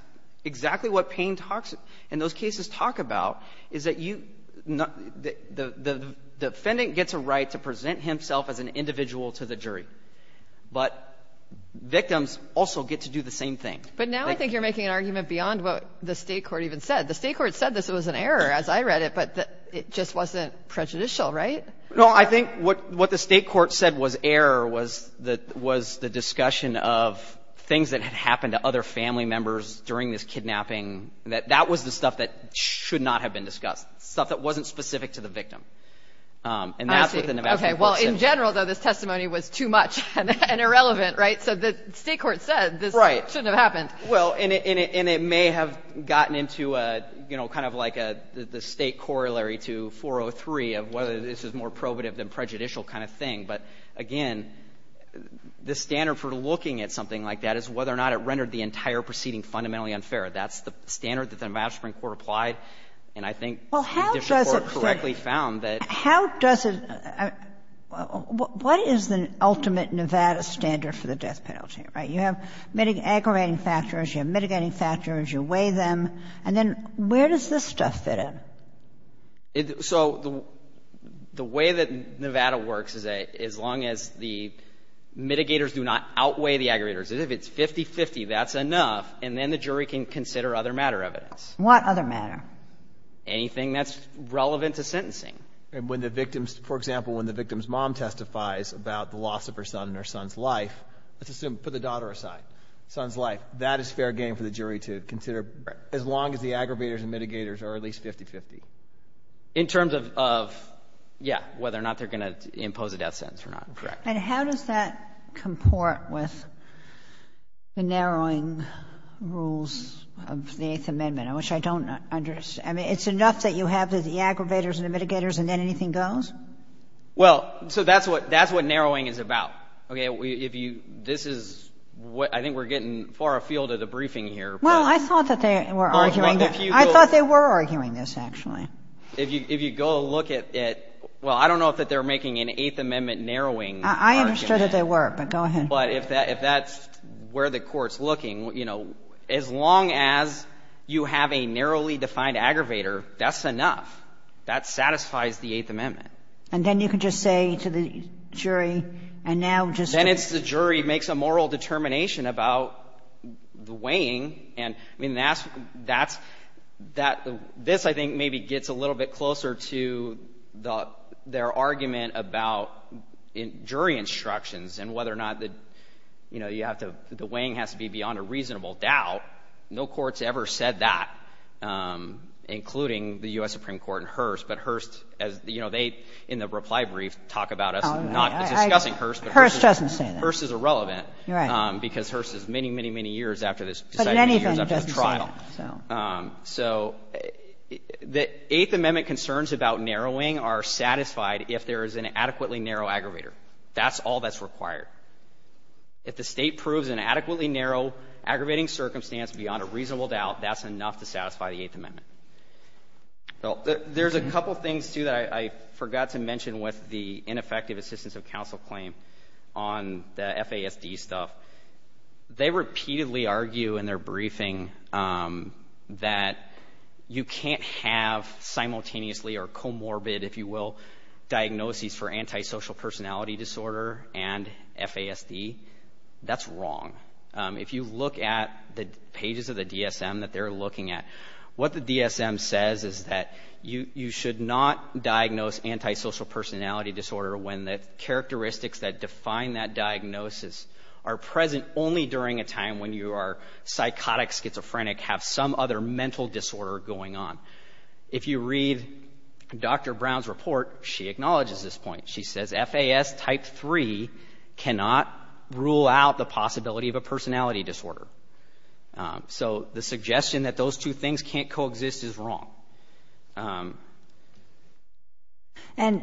exactly what Payne talks, and those cases talk about, is that you, the defendant gets a right to present himself as an individual to the jury. But victims also get to do the same thing. But now I think you're making an argument beyond what the state court even said. The state court said this was an error, as I read it, but it just wasn't prejudicial, right? No, I think what the state court said was error, was the discussion of things that had happened to other family members during this kidnapping, that that was the stuff that should not have been discussed, stuff that wasn't specific to the victim. And that's what the Nevada Supreme Court said. I see. Okay. Well, in general, though, this testimony was too much and irrelevant, right? So the state court said this shouldn't have happened. Right. Well, and it may have gotten into, you know, kind of like the state corollary to 403 of whether this is more probative than prejudicial kind of thing. But, again, the standard for looking at something like that is whether or not it rendered the entire proceeding fundamentally unfair. That's the standard that the Nevada Supreme Court applied. And I think the district court correctly found that. Well, how does it fit? How does it — what is the ultimate Nevada standard for the death penalty, right? You have aggravating factors. You have mitigating factors. You weigh them. And then where does this stuff fit in? So the way that Nevada works is as long as the mitigators do not outweigh the aggravators. If it's 50-50, that's enough. And then the jury can consider other matter evidence. What other matter? Anything that's relevant to sentencing. And when the victim's — for example, when the victim's mom testifies about the loss of her son and her son's life, let's assume — put the daughter aside, son's life. That is fair game for the jury to consider as long as the aggravators and mitigators are at least 50-50. In terms of, yeah, whether or not they're going to impose a death sentence or not. Correct. And how does that comport with the narrowing rules of the Eighth Amendment, which I don't understand? I mean, it's enough that you have the aggravators and the mitigators and then anything goes? Well, so that's what narrowing is about. Okay, if you — this is what — I think we're getting far afield of the briefing here. Well, I thought that they were arguing this. I thought they were arguing this, actually. If you go look at — well, I don't know if they're making an Eighth Amendment narrowing argument. I understood that they were, but go ahead. But if that's where the Court's looking, you know, as long as you have a narrowly defined aggravator, that's enough. That satisfies the Eighth Amendment. And then you can just say to the jury, and now just — The sentence to the jury makes a moral determination about the weighing. And, I mean, that's — this, I think, maybe gets a little bit closer to their argument about jury instructions and whether or not the — you know, you have to — the weighing has to be beyond a reasonable doubt. No court's ever said that, including the U.S. Supreme Court and Hearst. But Hearst, as — you know, they, in the reply brief, talk about us not discussing Hearst is irrelevant. You're right. Because Hearst is many, many, many years after this — But anything doesn't say that. So the Eighth Amendment concerns about narrowing are satisfied if there is an adequately narrow aggravator. That's all that's required. If the State proves an adequately narrow aggravating circumstance beyond a reasonable doubt, that's enough to satisfy the Eighth Amendment. There's a couple things, too, that I forgot to mention with the ineffective assistance of counsel claim on the FASD stuff. They repeatedly argue in their briefing that you can't have simultaneously or comorbid, if you will, diagnoses for antisocial personality disorder and FASD. That's wrong. If you look at the pages of the DSM that they're looking at, what the DSM says is that you should not diagnose antisocial personality disorder when the characteristics that define that diagnosis are present only during a time when you are psychotic, schizophrenic, have some other mental disorder going on. If you read Dr. Brown's report, she acknowledges this point. She says FAS type 3 cannot rule out the possibility of a personality disorder. So the suggestion that those two things can't coexist is wrong. And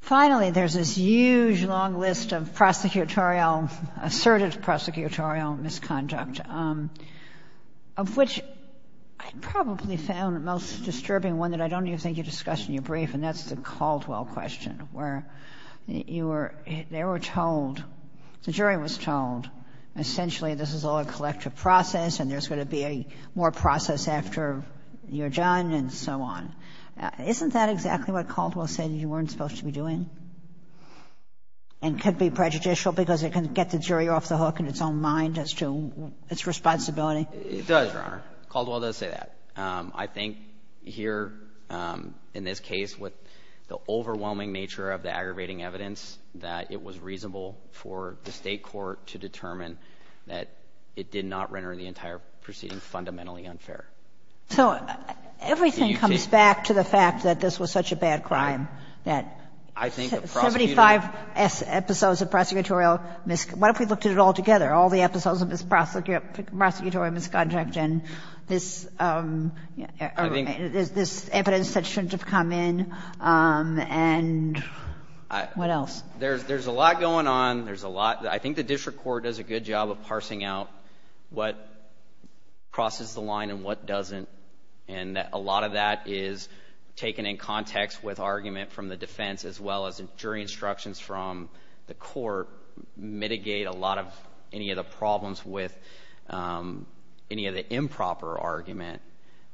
finally, there's this huge long list of prosecutorial, assertive prosecutorial misconduct, of which I probably found the most disturbing one that I don't even think you discussed in your brief, and that's the Caldwell question, where you were, they were told, the jury was told, essentially this is all a collective process and there's going to be a more process after you're done and so on. Isn't that exactly what Caldwell said you weren't supposed to be doing and could be prejudicial because it can get the jury off the hook in its own mind as to its responsibility? It does, Your Honor. Caldwell does say that. I think here in this case with the overwhelming nature of the aggravating evidence that it was reasonable for the State court to determine that it did not render the entire proceeding fundamentally unfair. So everything comes back to the fact that this was such a bad crime, that 75 episodes of prosecutorial misconduct. What if we looked at it all together, all the episodes of prosecutorial misconduct and this evidence that shouldn't have come in? And what else? There's a lot going on. There's a lot. I think the district court does a good job of parsing out what crosses the line and what doesn't, and a lot of that is taken in context with argument from the defense as well as jury instructions from the court mitigate a lot of any of the problems with any of the improper argument.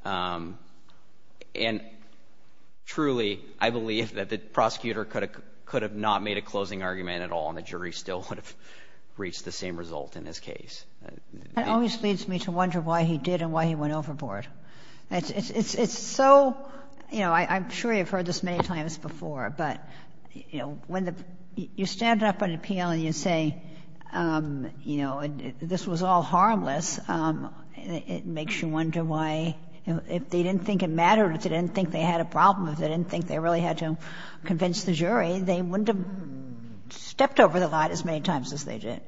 And truly, I believe that the prosecutor could have not made a closing argument at all and the jury still would have reached the same result in his case. That always leads me to wonder why he did and why he went overboard. It's so, you know, I'm sure you've heard this many times before, but, you know, when you stand up at an appeal and you say, you know, this was all harmless, it makes you wonder why, you know, if they didn't think it mattered, if they didn't think they had a problem, if they didn't think they really had to convince the jury, they wouldn't have stepped over the line as many times as they did.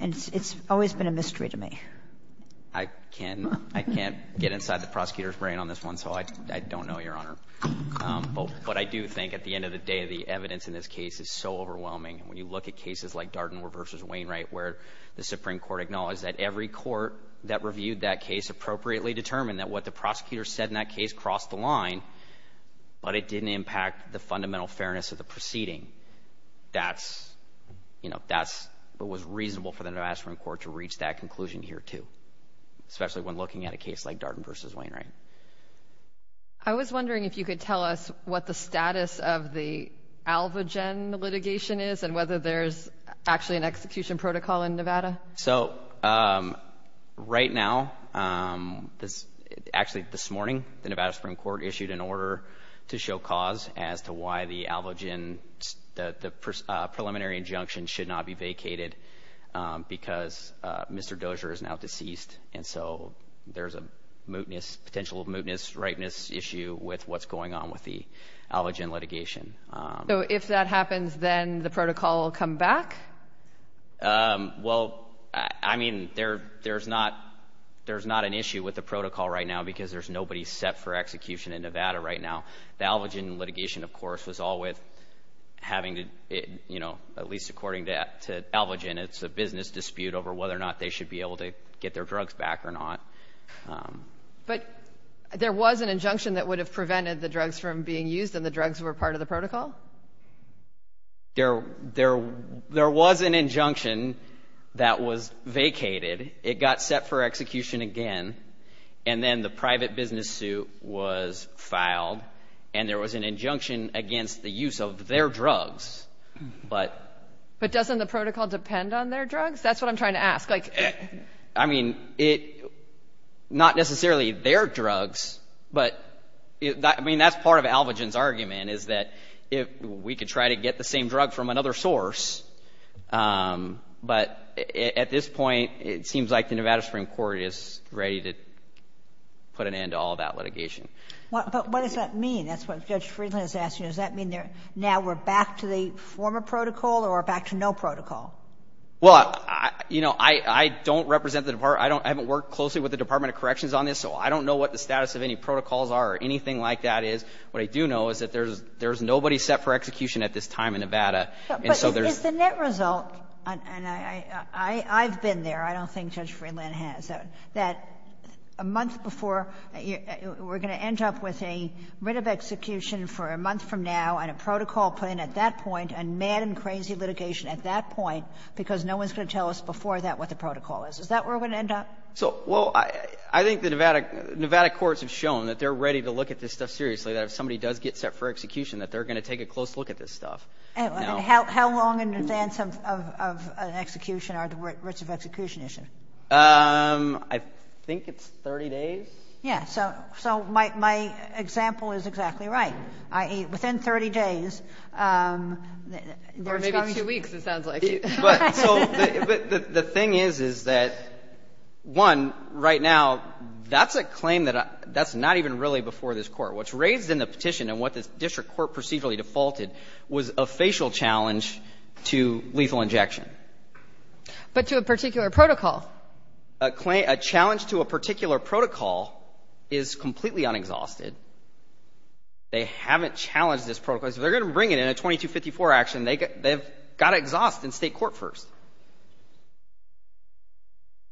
And it's always been a mystery to me. I can't get inside the prosecutor's brain on this one, so I don't know, Your Honor. But I do think at the end of the day, the evidence in this case is so overwhelming. When you look at cases like Darden versus Wainwright where the Supreme Court acknowledged that every court that reviewed that case appropriately determined that what the prosecutor said in that case crossed the line, but it didn't impact the fundamental fairness of the proceeding, that's what was reasonable for the Nevada Supreme Court to reach that conclusion here too, especially when looking at a case like Darden versus Wainwright. I was wondering if you could tell us what the status of the Alvagen litigation is and whether there's actually an execution protocol in Nevada. So right now, actually this morning, the Nevada Supreme Court issued an order to show cause as to why the Alvagen preliminary injunction should not be vacated because Mr. Dozier is now deceased, and so there's a potential of mootness, ripeness issue with what's going on with the Alvagen litigation. So if that happens, then the protocol will come back? Well, I mean, there's not an issue with the protocol right now because there's nobody set for execution in Nevada right now. The Alvagen litigation, of course, was all with having to, at least according to Alvagen, it's a business dispute over whether or not they should be able to get their drugs back or not. But there was an injunction that would have prevented the drugs from being used and the drugs were part of the protocol? There was an injunction that was vacated. It got set for execution again, and then the private business suit was filed, and there was an injunction against the use of their drugs. But doesn't the protocol depend on their drugs? That's what I'm trying to ask. I mean, not necessarily their drugs, but that's part of Alvagen's argument is that we could try to get the same drug from another source, but at this point it seems like the Nevada Supreme Court is ready to put an end to all that litigation. But what does that mean? That's what Judge Friedland is asking. Does that mean now we're back to the former protocol or we're back to no protocol? Well, I don't represent the department. I haven't worked closely with the Department of Corrections on this, so I don't know what the status of any protocols are or anything like that is. What I do know is that there's nobody set for execution at this time in Nevada, and so there's — But is the net result, and I've been there, I don't think Judge Friedland has, that a month before we're going to end up with a writ of execution for a month from now and a protocol put in at that point and mad and crazy litigation at that point because no one's going to tell us before that what the protocol is? Is that where we're going to end up? So, well, I think the Nevada courts have shown that they're ready to look at this stuff seriously. That if somebody does get set for execution, that they're going to take a close look at this stuff. How long in advance of an execution are the writs of execution issued? I think it's 30 days. Yeah, so my example is exactly right, i.e. within 30 days. Or maybe two weeks, it sounds like. But so the thing is is that, one, right now that's a claim that's not even really before this court. What's raised in the petition and what the district court procedurally defaulted was a facial challenge to lethal injection. But to a particular protocol. A challenge to a particular protocol is completely unexhausted. They haven't challenged this protocol. If they're going to bring it in a 2254 action, they've got to exhaust in state court first.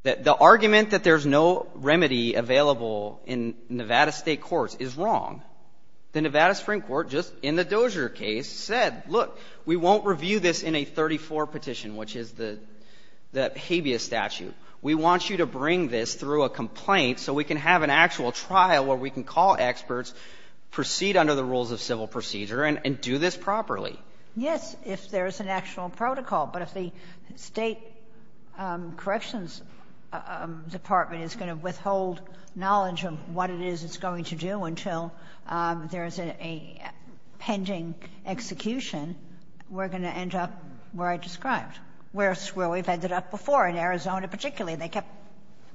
The argument that there's no remedy available in Nevada state courts is wrong. The Nevada Supreme Court, just in the Dozier case, said, look, we won't review this in a 34 petition, which is the habeas statute. We want you to bring this through a complaint so we can have an actual trial where we can call experts, proceed under the rules of civil procedure and do this properly. Yes, if there's an actual protocol. But if the State Corrections Department is going to withhold knowledge of what it is it's going to do until there's a pending execution, we're going to end up where I described, where we've ended up before in Arizona particularly. They kept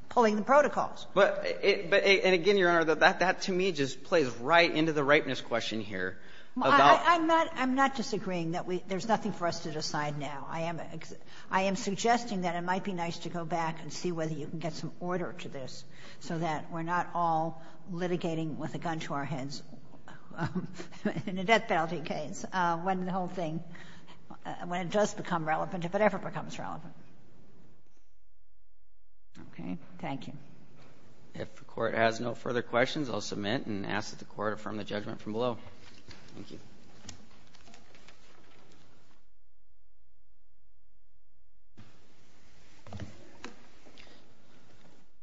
pulling the protocols. And again, Your Honor, that to me just plays right into the ripeness question here about the statute. I'm not disagreeing that there's nothing for us to decide now. I am suggesting that it might be nice to go back and see whether you can get some order to this so that we're not all litigating with a gun to our heads in a death penalty case when the whole thing, when it does become relevant, if it ever becomes relevant. Okay. Thank you. If the Court has no further questions, I'll submit and ask that the Court affirm the judgment from below. Thank you.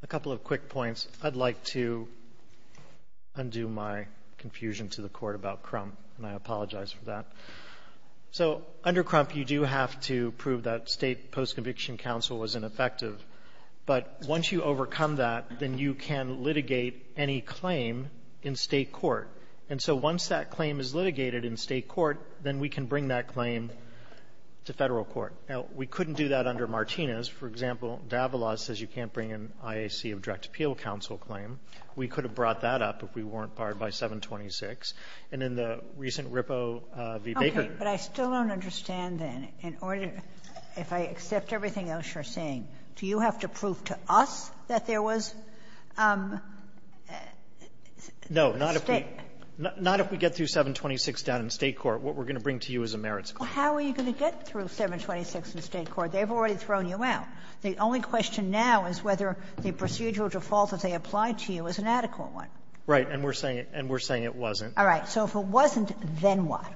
A couple of quick points. I'd like to undo my confusion to the Court about Crump, and I apologize for that. So under Crump you do have to prove that state post-conviction counsel was ineffective. But once you overcome that, then you can litigate any claim in state court. And so once that claim is litigated in state court, then we can bring that claim to Federal court. Now, we couldn't do that under Martinez. For example, Davila says you can't bring an IAC of direct appeal counsel claim. We could have brought that up if we weren't barred by 726. And in the recent Rippo v. Baker ---- Okay. But I still don't understand then. In order, if I accept everything else you're saying, do you have to prove to us that there was state ---- No. Not if we get through 726 down in state court. What we're going to bring to you is a merits claim. Well, how are you going to get through 726 in state court? They've already thrown you out. The only question now is whether the procedural default that they applied to you is an adequate one. Right. And we're saying it wasn't. All right. So if it wasn't, then what?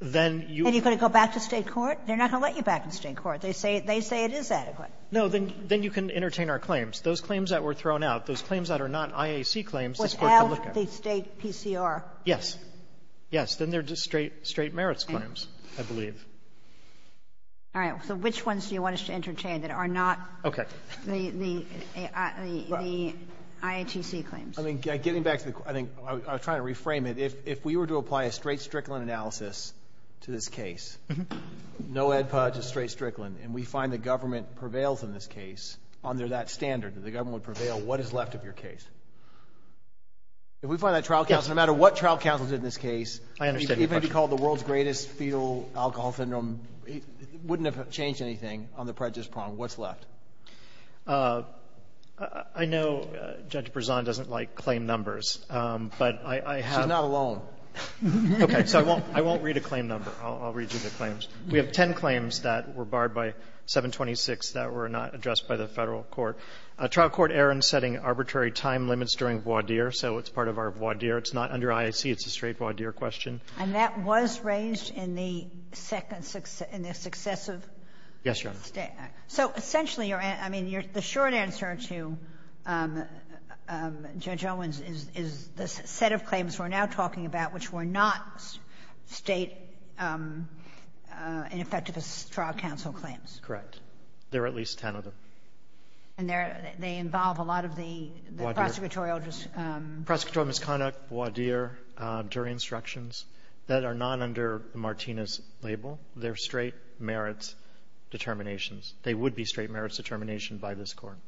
Then you ---- And you're going to go back to state court? They're not going to let you back in state court. They say it is adequate. No. Then you can entertain our claims. Those claims that were thrown out, those claims that are not IAC claims, this Court will look at. Well, the state PCR. Yes. Yes. Then they're just straight merits claims, I believe. All right. So which ones do you want us to entertain that are not the IATC claims? I mean, getting back to the ---- I was trying to reframe it. If we were to apply a straight Strickland analysis to this case, no EDPA, just straight Strickland, and we find the government prevails in this case under that standard, that the government would prevail, what is left of your case? If we find that trial counsel, no matter what trial counsel did in this case, even if he called the world's greatest fetal alcohol syndrome, it wouldn't have changed anything on the prejudice prong. What's left? I know Judge Berzon doesn't like claim numbers, but I have ---- She's not alone. Okay. So I won't read a claim number. I'll read you the claims. We have 10 claims that were barred by 726 that were not addressed by the Federal Court. Trial court error in setting arbitrary time limits during voir dire, so it's part of our voir dire. It's not under IATC. It's a straight voir dire question. And that was raised in the second ---- in the successive ---- Yes, Your Honor. So essentially you're ---- I mean, the short answer to Judge Owens is the set of claims we're now talking about which were not State ineffective trial counsel claims. Correct. There are at least 10 of them. And they involve a lot of the prosecutorial ---- Prosecutorial misconduct, voir dire, jury instructions that are not under Martina's label. They're straight merits determinations. They would be straight merits determinations by this Court.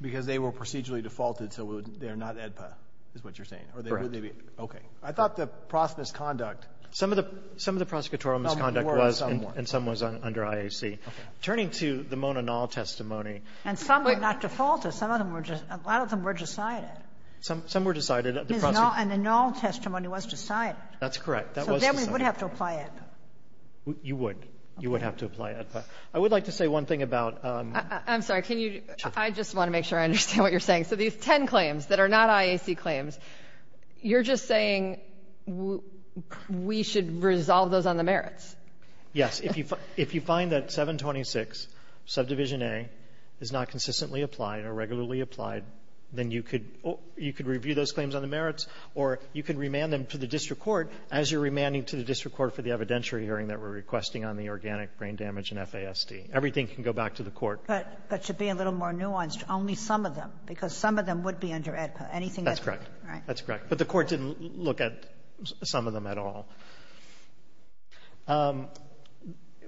Because they were procedurally defaulted, so they're not EDPA is what you're saying. Correct. Okay. I thought the prose misconduct ---- Some of the prosecutorial misconduct was and some was under IAC. Okay. Returning to the Mona Nall testimony ---- And some were not defaulted. Some of them were just ---- a lot of them were decided. Some were decided at the ---- And the Nall testimony was decided. That's correct. That was decided. So then we would have to apply EDPA. You would. You would have to apply EDPA. I would like to say one thing about ---- I'm sorry. Can you ---- I just want to make sure I understand what you're saying. So these 10 claims that are not IAC claims, you're just saying we should resolve those on the merits. Yes. If you find that 726, subdivision A, is not consistently applied or regularly applied, then you could review those claims on the merits, or you could remand them to the district court as you're remanding to the district court for the evidentiary hearing that we're requesting on the organic brain damage and FASD. Everything can go back to the court. But to be a little more nuanced, only some of them, because some of them would be under EDPA. Anything ---- That's correct. That's correct. But the court didn't look at some of them at all.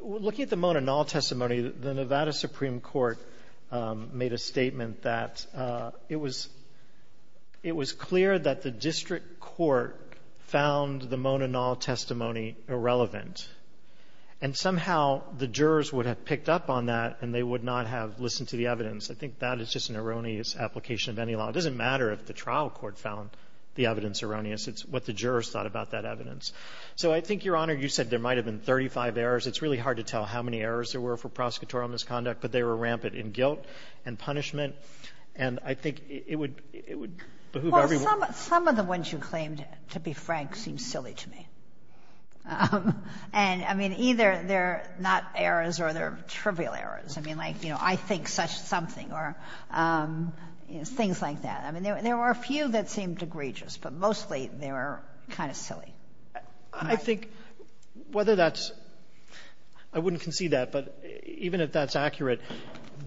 Looking at the Mona Nall testimony, the Nevada Supreme Court made a statement that it was clear that the district court found the Mona Nall testimony irrelevant. And somehow the jurors would have picked up on that, and they would not have listened to the evidence. I think that is just an erroneous application of any law. It doesn't matter if the trial court found the evidence erroneous. It's what the jurors thought about that evidence. So I think, Your Honor, you said there might have been 35 errors. It's really hard to tell how many errors there were for prosecutorial misconduct, but they were rampant in guilt and punishment. And I think it would behoove everyone ---- Well, some of the ones you claimed, to be frank, seem silly to me. And, I mean, either they're not errors or they're trivial errors. I mean, like, you know, I think such something or things like that. I mean, there were a few that seemed egregious, but mostly they were kind of silly. I think whether that's ---- I wouldn't concede that, but even if that's accurate,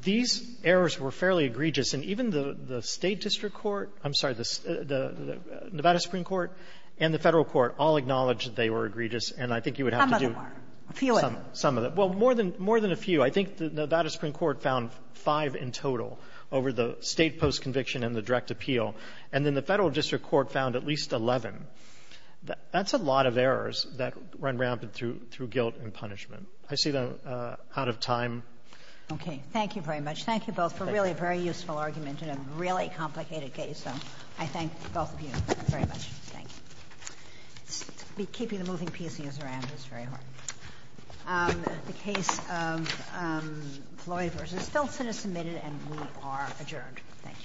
these errors were fairly egregious. And even the State district court ---- I'm sorry, the Nevada Supreme Court and the Federal court all acknowledged that they were egregious. And I think you would have to do ---- Some of them are. A few of them. Some of them. Well, more than ---- more than a few. I think the Nevada Supreme Court found five in total over the State post-conviction and the direct appeal. And then the Federal district court found at least 11. That's a lot of errors that run rampant through guilt and punishment. I see the out-of-time. Okay. Thank you very much. Thank you both for a really very useful argument in a really complicated case. I thank both of you very much. Thank you. Keeping the moving pieces around is very hard. The case of Floyd v. Filson is submitted and we are adjourned. Thank you.